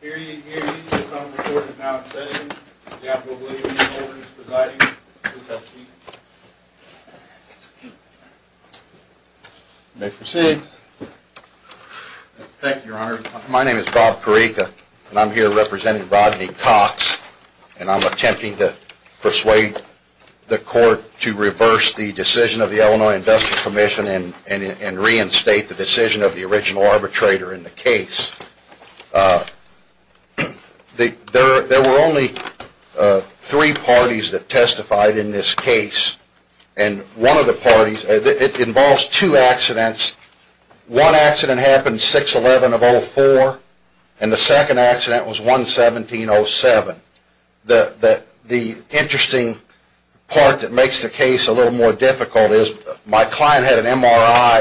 Hear ye, hear ye, the sum of the court is now in session, the admiral williams holder is presiding, please have a seat. You may proceed. Thank you, your honor. My name is Bob Carica, and I'm here representing Rodney Cox, and I'm attempting to persuade the court to reverse the decision of the Illinois Industrial Commission and reinstate the decision of the original arbitrator in the case. There were only three parties that testified in this case, and one of the parties, it involves two accidents, one accident happened 6-11-04, and the second accident was 1-17-07. The interesting part that makes the case a little more difficult is my client had an MRI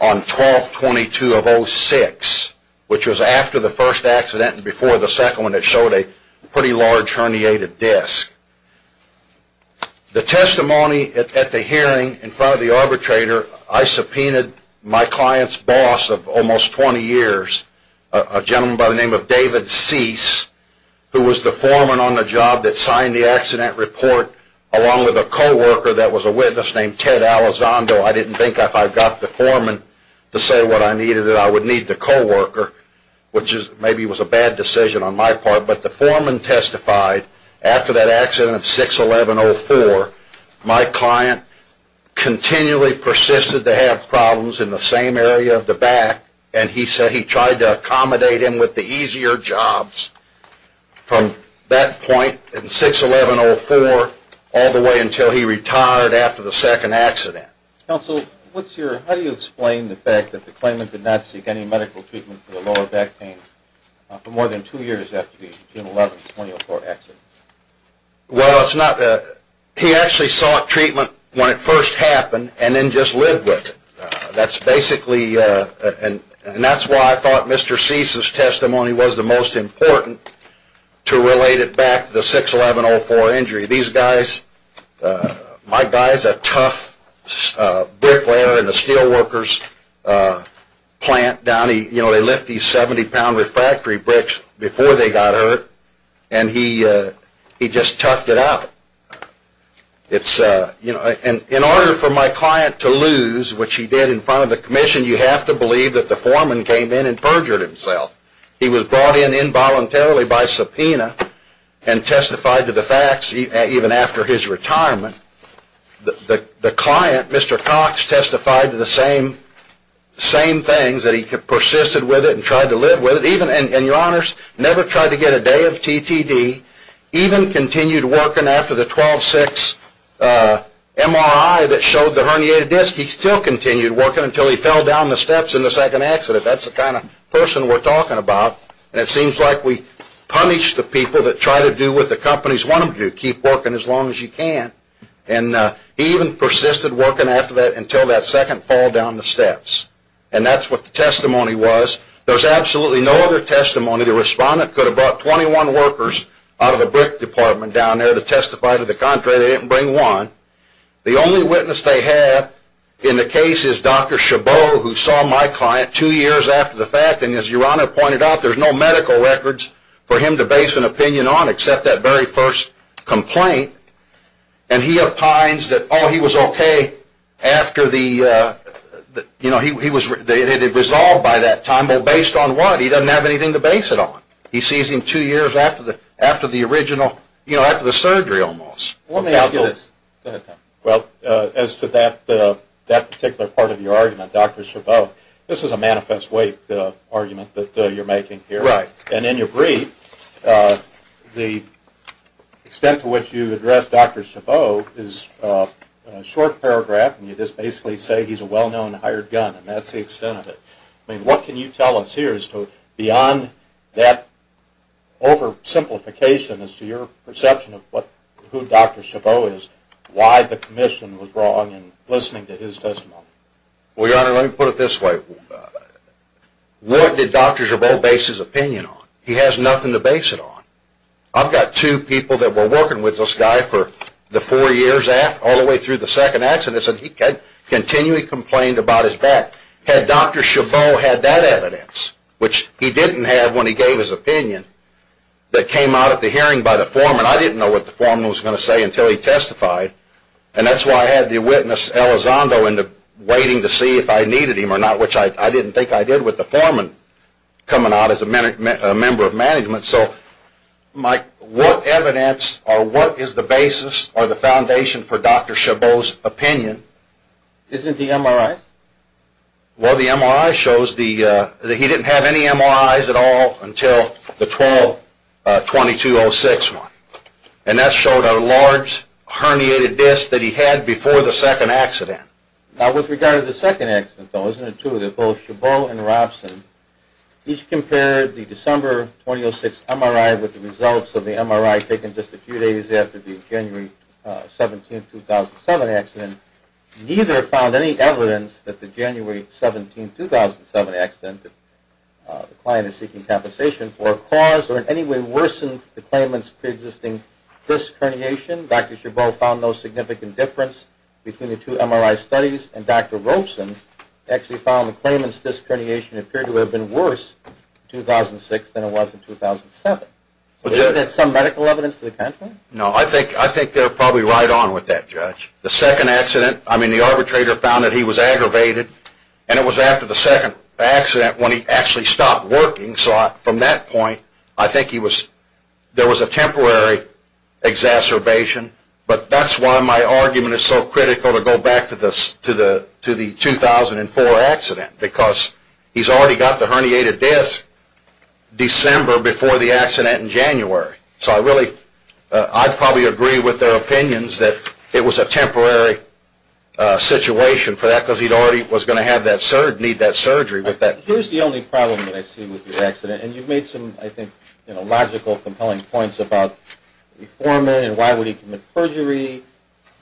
on 12-22-06, which was after the first accident and before the second one that showed a pretty large herniated disc. The testimony at the hearing in front of the arbitrator, I subpoenaed my client's boss of almost 20 years, a gentleman by the name of David Cease, who was the foreman on the job that signed the accident report along with a co-worker that was a witness named Ted Alizondo. I didn't think if I got the foreman to say what I needed that I would need the co-worker, which maybe was a bad decision on my part, but the foreman testified after that accident of 6-11-04, my client continually persisted to have problems in the same area of the back, and he said he tried to accommodate him with the easier jobs from that point in 6-11-04 all the way until he retired after the second accident. Counsel, how do you explain the fact that the claimant did not seek any medical treatment for the lower back pain for more than two years after the 11-20-04 accident? Well, he actually sought treatment when it first happened and then just lived with it, and that's why I thought Mr. Cease's testimony was the most important to relate it back to the 6-11-04 injury. In order for my client to lose, which he did in front of the commission, you have to believe that the foreman came in and perjured himself. He was brought in involuntarily by subpoena and testified to the facts even after his retirement. The client, Mr. Cox, testified to the same things, that he persisted with it and tried to live with it, and your honors, never tried to get a day of TTD, even continued working after the 12-6 MRI that showed the herniated disc. He still continued working until he fell down the steps in the second accident. That's the kind of person we're talking about, and it seems like we punish the people that try to do what the companies want them to do, keep working as long as you can. He even persisted working until that second fall down the steps, and that's what the testimony was. There's absolutely no other testimony. The respondent could have brought 21 workers out of the brick department down there to testify to the contrary. They didn't bring one. The only witness they have in the case is Dr. Chabot, who saw my client two years after the fact, and as your honor pointed out, there's no medical records for him to base an opinion on except that very first complaint. And he opines that he was okay after it had been resolved by that time, but based on what? He doesn't have anything to base it on. He sees him two years after the surgery almost. Well, as to that particular part of your argument, Dr. Chabot, this is a manifest weight argument that you're making here. And in your brief, the extent to which you address Dr. Chabot is a short paragraph, and you just basically say he's a well-known hired gun, and that's the extent of it. I mean, what can you tell us here as to beyond that oversimplification as to your perception of who Dr. Chabot is, why the commission was wrong in listening to his testimony? Well, your honor, let me put it this way. What did Dr. Chabot base his opinion on? He has nothing to base it on. I've got two people that were working with this guy for the four years all the way through the second accident, and he continually complained about his back. Had Dr. Chabot had that evidence, which he didn't have when he gave his opinion, that came out at the hearing by the foreman, I didn't know what the foreman was going to say until he testified. And that's why I had the witness Elizondo waiting to see if I needed him or not, which I didn't think I did with the foreman coming out as a member of management. So, Mike, what evidence or what is the basis or the foundation for Dr. Chabot's opinion? Isn't it the MRI? Well, the MRI shows that he didn't have any MRIs at all until the 12-2206 one, and that showed a large herniated disc that he had before the second accident. Now, with regard to the second accident, though, isn't it true that both Chabot and Robson each compared the December 2006 MRI with the results of the MRI taken just a few days after the January 17, 2007 accident? Neither found any evidence that the January 17, 2007 accident that the client is seeking compensation for caused or in any way worsened the claimant's preexisting disc herniation. Dr. Chabot found no significant difference between the two MRI studies, and Dr. Robson actually found the claimant's disc herniation appeared to have been worse in 2006 than it was in 2007. Isn't that some medical evidence to the contrary? No, I think they're probably right on with that, Judge. The second accident, I mean, the arbitrator found that he was aggravated, and it was after the second accident when he actually stopped working. So from that point, I think there was a temporary exacerbation. But that's why my argument is so critical to go back to the 2004 accident, because he's already got the herniated disc December before the accident in January. So I'd probably agree with their opinions that it was a temporary situation for that, because he already was going to need that surgery. Here's the only problem that I see with your accident, and you've made some, I think, logical, compelling points about the foreman and why would he commit perjury.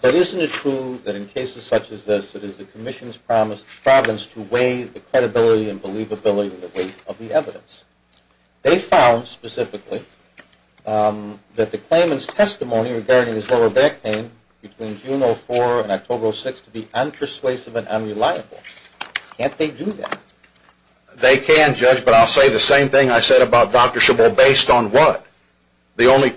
But isn't it true that in cases such as this, it is the Commission's promise to weigh the credibility and believability with the weight of the evidence? They found, specifically, that the claimant's testimony regarding his lower back pain between June 04 and October 06 to be unpersuasive and unreliable. Can't they do that? They can, Judge, but I'll say the same thing I said about Dr. Shibbol, based on what? The only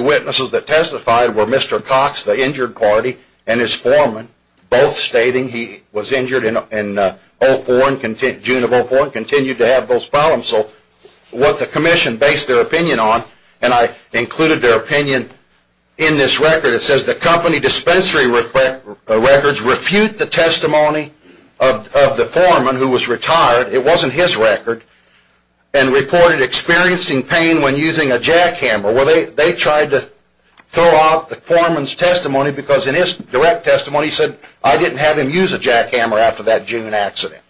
witnesses that testified were Mr. Cox, the injured party, and his foreman, both stating he was injured in June of 04 and continued to have those problems. So what the Commission based their opinion on, and I included their opinion in this record, it says the company dispensary records refute the testimony of the foreman who was retired. It wasn't his record, and reported experiencing pain when using a jackhammer. Well, they tried to throw out the foreman's testimony because in his direct testimony he said, I didn't have him use a jackhammer after that June accident.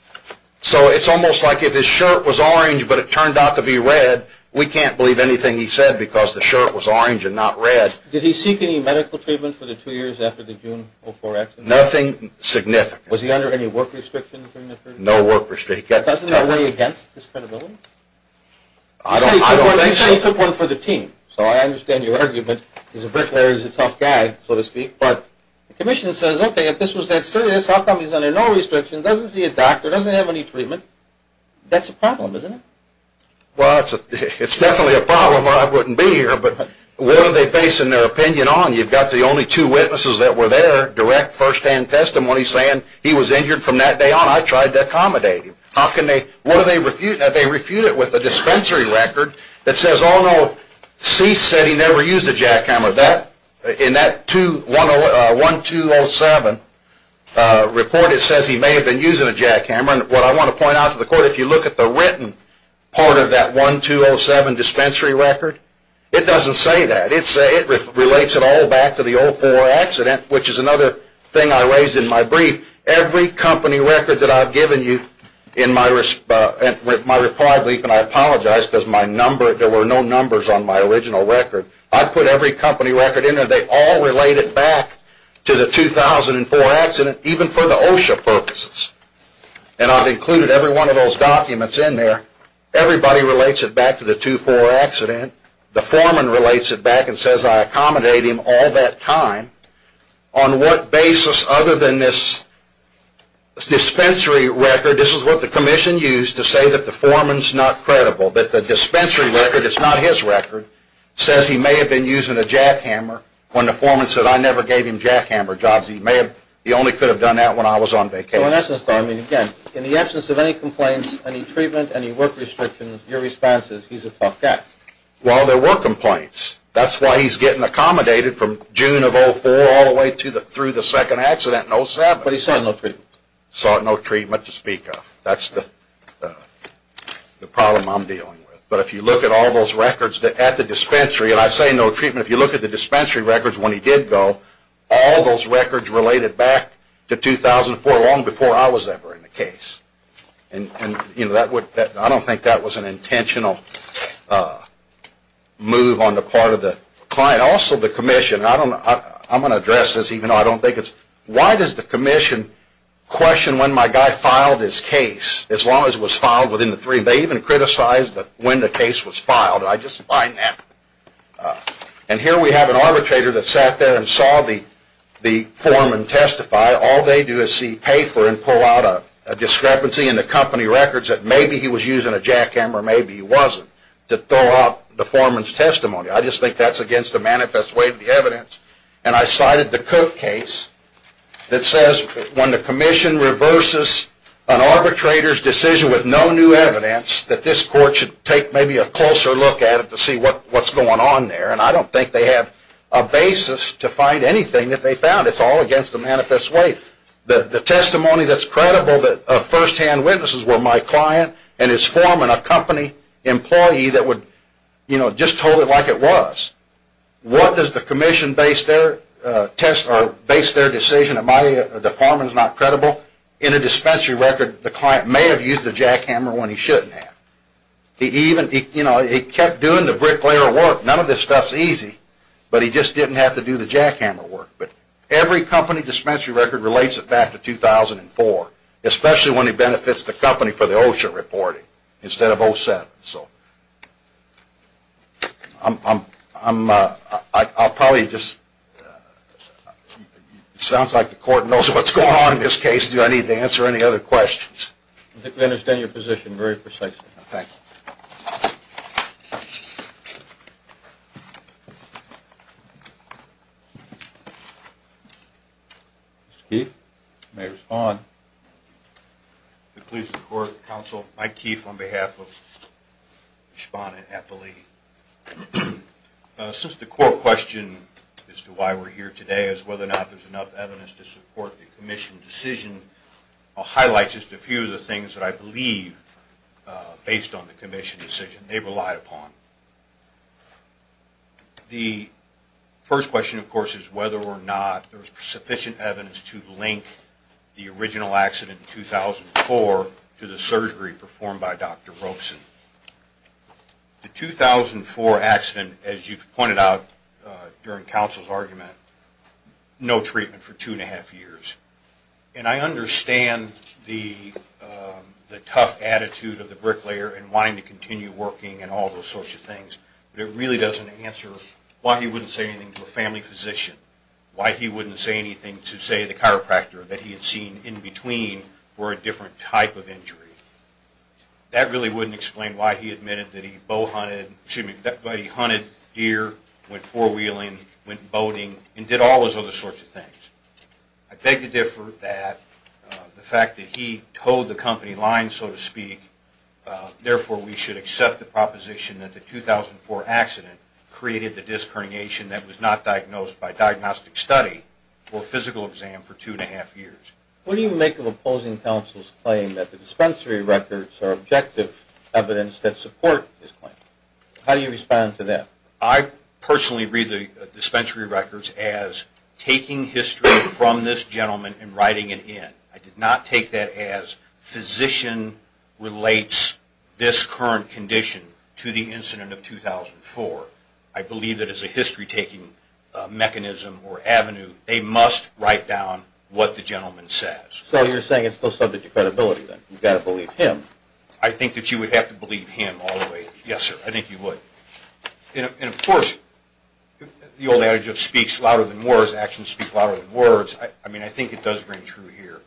So it's almost like if his shirt was orange but it turned out to be red, we can't believe anything he said because the shirt was orange and not red. Did he seek any medical treatment for the two years after the June 04 accident? Nothing significant. Was he under any work restrictions? No work restrictions. Doesn't that weigh against his credibility? I don't think so. You said he took one for the team, so I understand your argument. He's a bricklayer, he's a tough guy, so to speak. But the Commission says, okay, if this was that serious, how come he's under no restrictions, doesn't see a doctor, doesn't have any treatment? That's a problem, isn't it? Well, it's definitely a problem or I wouldn't be here, but what are they basing their opinion on? You've got the only two witnesses that were there, direct, first-hand testimony saying he was injured from that day on. I tried to accommodate him. What are they refuting? They refute it with a dispensary record that says C said he never used a jackhammer. In that 1207 report, it says he may have been using a jackhammer. What I want to point out to the Court, if you look at the written part of that 1207 dispensary record, it doesn't say that. It relates it all back to the 04 accident, which is another thing I raised in my brief. Every company record that I've given you in my reply brief, and I apologize because there were no numbers on my original record, I put every company record in there. They all relate it back to the 2004 accident, even for the OSHA purposes. And I've included every one of those documents in there. Everybody relates it back to the 2004 accident. The foreman relates it back and says I accommodate him all that time. On what basis other than this dispensary record, this is what the Commission used to say that the foreman is not credible, that the dispensary record is not his record, says he may have been using a jackhammer when the foreman said I never gave him jackhammer jobs. He only could have done that when I was on vacation. In the absence of any complaints, any treatment, any work restrictions, your response is he's a tough guy. Well, there were complaints. That's why he's getting accommodated from June of 2004 all the way through the second accident in 2007. But he saw no treatment. Saw no treatment to speak of. That's the problem I'm dealing with. But if you look at all those records at the dispensary, and I say no treatment, if you look at the dispensary records when he did go, all those records related back to 2004 long before I was ever in the case. I don't think that was an intentional move on the part of the client. Also the Commission, I'm going to address this even though I don't think it's, why does the Commission question when my guy filed his case as long as it was filed within the three, they even criticized when the case was filed. I just find that. And here we have an arbitrator that sat there and saw the foreman testify. All they do is see paper and pull out a discrepancy in the company records that maybe he was using a jackhammer, maybe he wasn't, to throw out the foreman's testimony. I just think that's against the manifest way of the evidence. And I cited the Cook case that says when the Commission reverses an arbitrator's decision with no new evidence, that this court should take maybe a closer look at it to see what's going on there. And I don't think they have a basis to find anything that they found. It's all against the manifest way. The testimony that's credible of firsthand witnesses were my client and his foreman, a company employee that just told it like it was. What does the Commission base their decision on? The foreman is not credible. In a dispensary record, the client may have used the jackhammer when he shouldn't have. He kept doing the bricklayer work. None of this stuff is easy. But he just didn't have to do the jackhammer work. But every company dispensary record relates it back to 2004, especially when he benefits the company for the OSHA reporting instead of 07. I'll probably just... It sounds like the court knows what's going on in this case. Do I need to answer any other questions? I understand your position very precisely. Thank you. Mr. Keefe, you may respond. If it pleases the Court, Counsel, Mike Keefe on behalf of Respondent Eppley. Since the core question as to why we're here today is whether or not there's enough evidence to support the Commission decision, I'll highlight just a few of the things that I believe, based on the Commission decision, they relied upon. The first question, of course, is whether or not there's sufficient evidence to link the original accident in 2004 to the surgery performed by Dr. Robson. The 2004 accident, as you've pointed out during Counsel's argument, no treatment for two and a half years. And I understand the tough attitude of the bricklayer in wanting to continue working and all those sorts of things, but it really doesn't answer why he wouldn't say anything to a family physician, why he wouldn't say anything to, say, the chiropractor that he had seen in between for a different type of injury. That really wouldn't explain why he admitted that he bowhunted, that he hunted deer, went four-wheeling, went boating, and did all those other sorts of things. I beg to differ that the fact that he towed the company line, so to speak, therefore we should accept the proposition that the 2004 accident created the disc herniation that was not diagnosed by diagnostic study or physical exam for two and a half years. What do you make of opposing Counsel's claim that the dispensary records are objective evidence that support his claim? How do you respond to that? I personally read the dispensary records as taking history from this gentleman and writing it in. I did not take that as physician relates this current condition to the incident of 2004. I believe that as a history-taking mechanism or avenue, they must write down what the gentleman says. So you're saying it's still subject to credibility, then? You've got to believe him. I think that you would have to believe him all the way. Yes, sir, I think you would. And of course, the old adage of speaks louder than words, actions speak louder than words. I mean, I think it does ring true here.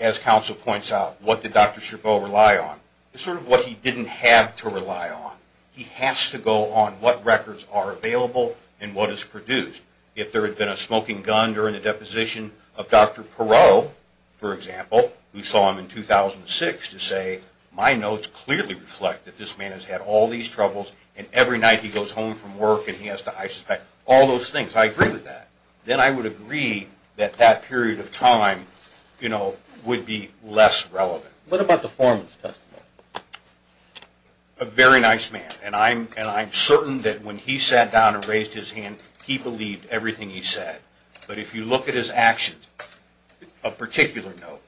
As Counsel points out, what did Dr. Cherveau rely on? It's sort of what he didn't have to rely on. He has to go on what records are available and what is produced. If there had been a smoking gun during the deposition of Dr. Perot, for example, we saw him in 2006 to say, my notes clearly reflect that this man has had all these troubles and every night he goes home from work and he has to isolate. All those things, I agree with that. Then I would agree that that period of time, you know, would be less relevant. What about the foreman's testimony? A very nice man. And I'm certain that when he sat down and raised his hand, he believed everything he said. But if you look at his actions, a particular note,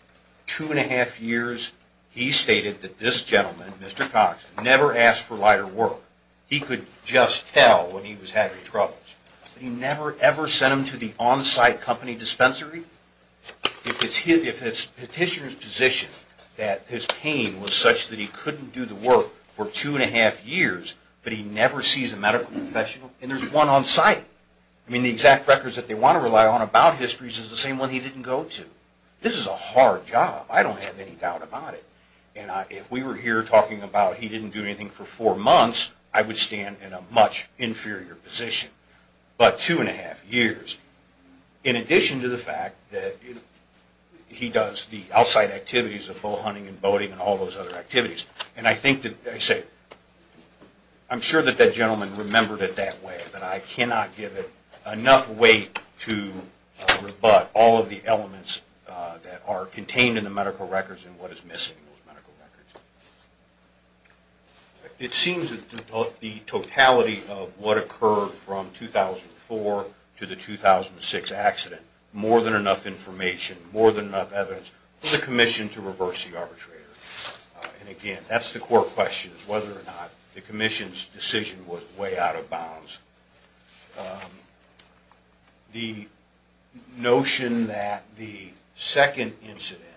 two and a half years he stated that this gentleman, Mr. Cox, never asked for lighter work. He could just tell when he was having troubles. He never, ever sent him to the on-site company dispensary. If it's petitioner's position that his pain was such that he couldn't do the work for two and a half years, but he never sees a medical professional, and there's one on-site. I mean, the exact records that they want to rely on about histories is the same one he didn't go to. This is a hard job. I don't have any doubt about it. And if we were here talking about he didn't do anything for four months, I would stand in a much inferior position. But two and a half years. In addition to the fact that he does the outside activities of bow hunting and boating and all those other activities. And I think that, I say, I'm sure that that gentleman remembered it that way. But I cannot give it enough weight to rebut all of the elements that are contained in the medical records and what is missing in those medical records. It seems that the totality of what occurred from 2004 to the 2006 accident, more than enough information, more than enough evidence for the commission to reverse the arbitrator. And again, that's the core question, whether or not the commission's decision was way out of bounds. The notion that the second incident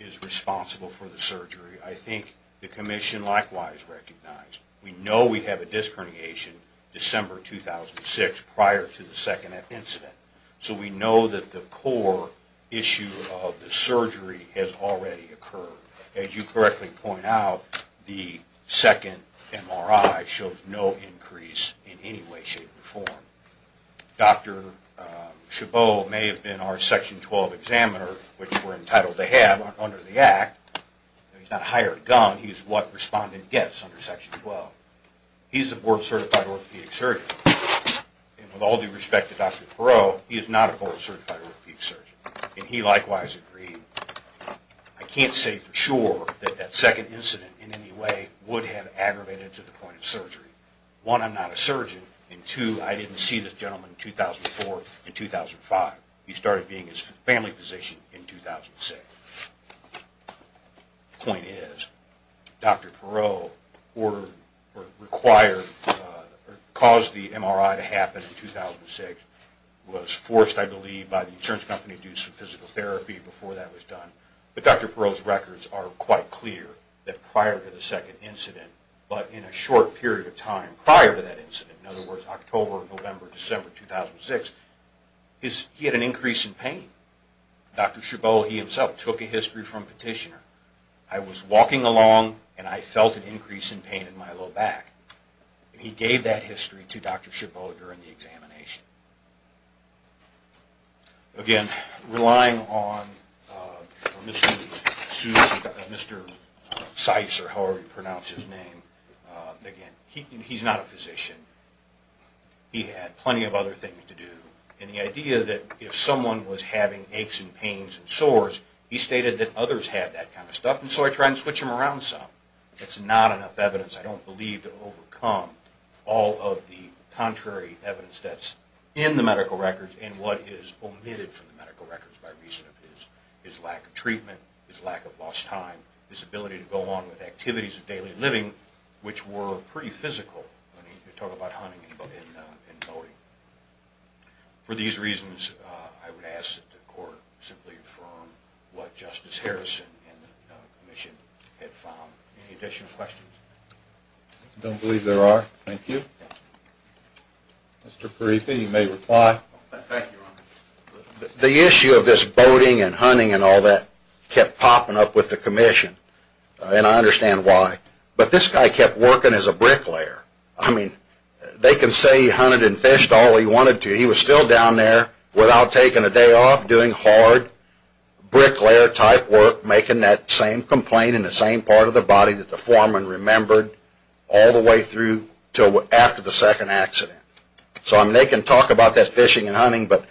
is responsible for the surgery, I think the commission likewise recognized. We know we have a disc herniation December 2006 prior to the second incident. So we know that the core issue of the surgery has already occurred. As you correctly point out, the second MRI shows no increase in any way, shape, or form. Dr. Chabot may have been our section 12 examiner, which we're entitled to have under the act. He's not hired a gun, he's what respondent gets under section 12. He's a board certified orthopedic surgeon. And with all due respect to Dr. Perot, he is not a board certified orthopedic surgeon. And he likewise agreed. I can't say for sure that that second incident in any way would have aggravated to the point of surgery. One, I'm not a surgeon, and two, I didn't see this gentleman in 2004 and 2005. He started being his family physician in 2006. The point is, Dr. Perot caused the MRI to happen in 2006, was forced, I believe, by the insurance company to do some physical therapy before that was done. But Dr. Perot's records are quite clear that prior to the second incident, but in a short period of time prior to that incident, in other words, October, November, December 2006, he had an increase in pain. Dr. Chabot, he himself, took a history from petitioner. I was walking along and I felt an increase in pain in my low back. He gave that history to Dr. Chabot during the examination. Again, relying on Mr. Seuss or however you pronounce his name, again, he's not a physician. He had plenty of other things to do. And the idea that if someone was having aches and pains and sores, he stated that others had that kind of stuff. And so I tried to switch him around some. It's not enough evidence, I don't believe, to overcome all of the contrary evidence that's in the medical records and what is omitted from the medical records by reason of his lack of treatment, his lack of lost time, his ability to go on with activities of daily living, which were pretty physical. I mean, you talk about hunting and boating. For these reasons, I would ask that the court simply affirm what Justice Harrison and the commission had found. Any additional questions? I don't believe there are. Thank you. Mr. Paripha, you may reply. Thank you, Your Honor. The issue of this boating and hunting and all that kept popping up with the commission, and I understand why. But this guy kept working as a bricklayer. I mean, they can say he hunted and fished all he wanted to. He was still down there without taking a day off, doing hard bricklayer-type work, making that same complaint in the same part of the body that the foreman remembered all the way through to after the second accident. So they can talk about that fishing and hunting, but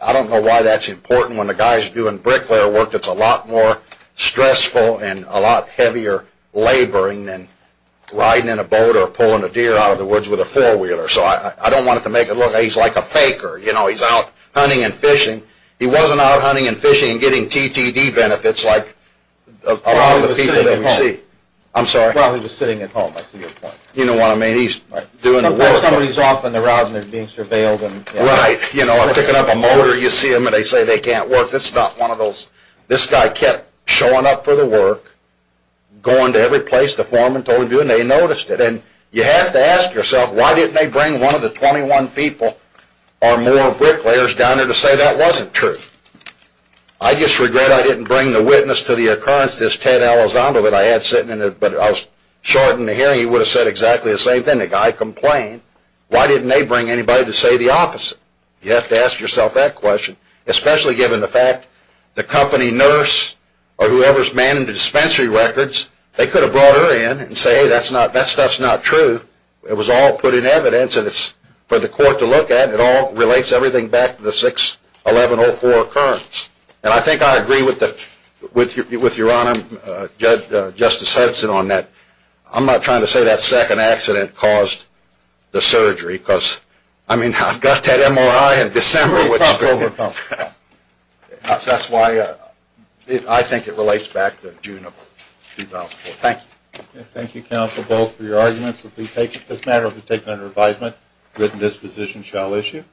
I don't know why that's important when the guy's doing bricklayer work that's a lot more stressful and a lot heavier laboring than riding in a boat or pulling a deer out of the woods with a four-wheeler. So I don't want it to make it look like he's like a faker. You know, he's out hunting and fishing. He wasn't out hunting and fishing and getting TTD benefits like a lot of the people that we see. I'm sorry. Probably just sitting at home. I see your point. You know what I mean. He's doing the work. Somebody's off on the route, and they're being surveilled. Right. You know, I'm picking up a motor. You see them, and they say they can't work. That's not one of those. This guy kept showing up for the work, going to every place the foreman told him to do, and they noticed it. And you have to ask yourself, why didn't they bring one of the 21 people or more bricklayers down there to say that wasn't true? I just regret I didn't bring the witness to the occurrence, this Ted Elizondo that I had sitting in there, but if I was short in the hearing, he would have said exactly the same thing. The guy complained. Why didn't they bring anybody to say the opposite? You have to ask yourself that question, especially given the fact the company nurse or whoever's manning the dispensary records, they could have brought her in and said, hey, that stuff's not true. It was all put in evidence, and it's for the court to look at, and it all relates everything back to the 6-1104 occurrence. And I think I agree with Your Honor, Justice Hudson, on that. I'm not trying to say that second accident caused the surgery because, I mean, I've got that MRI in December. So that's why I think it relates back to June of 2004. Thank you. Thank you, counsel, both, for your arguments. This matter will be taken under advisement. Written disposition shall issue.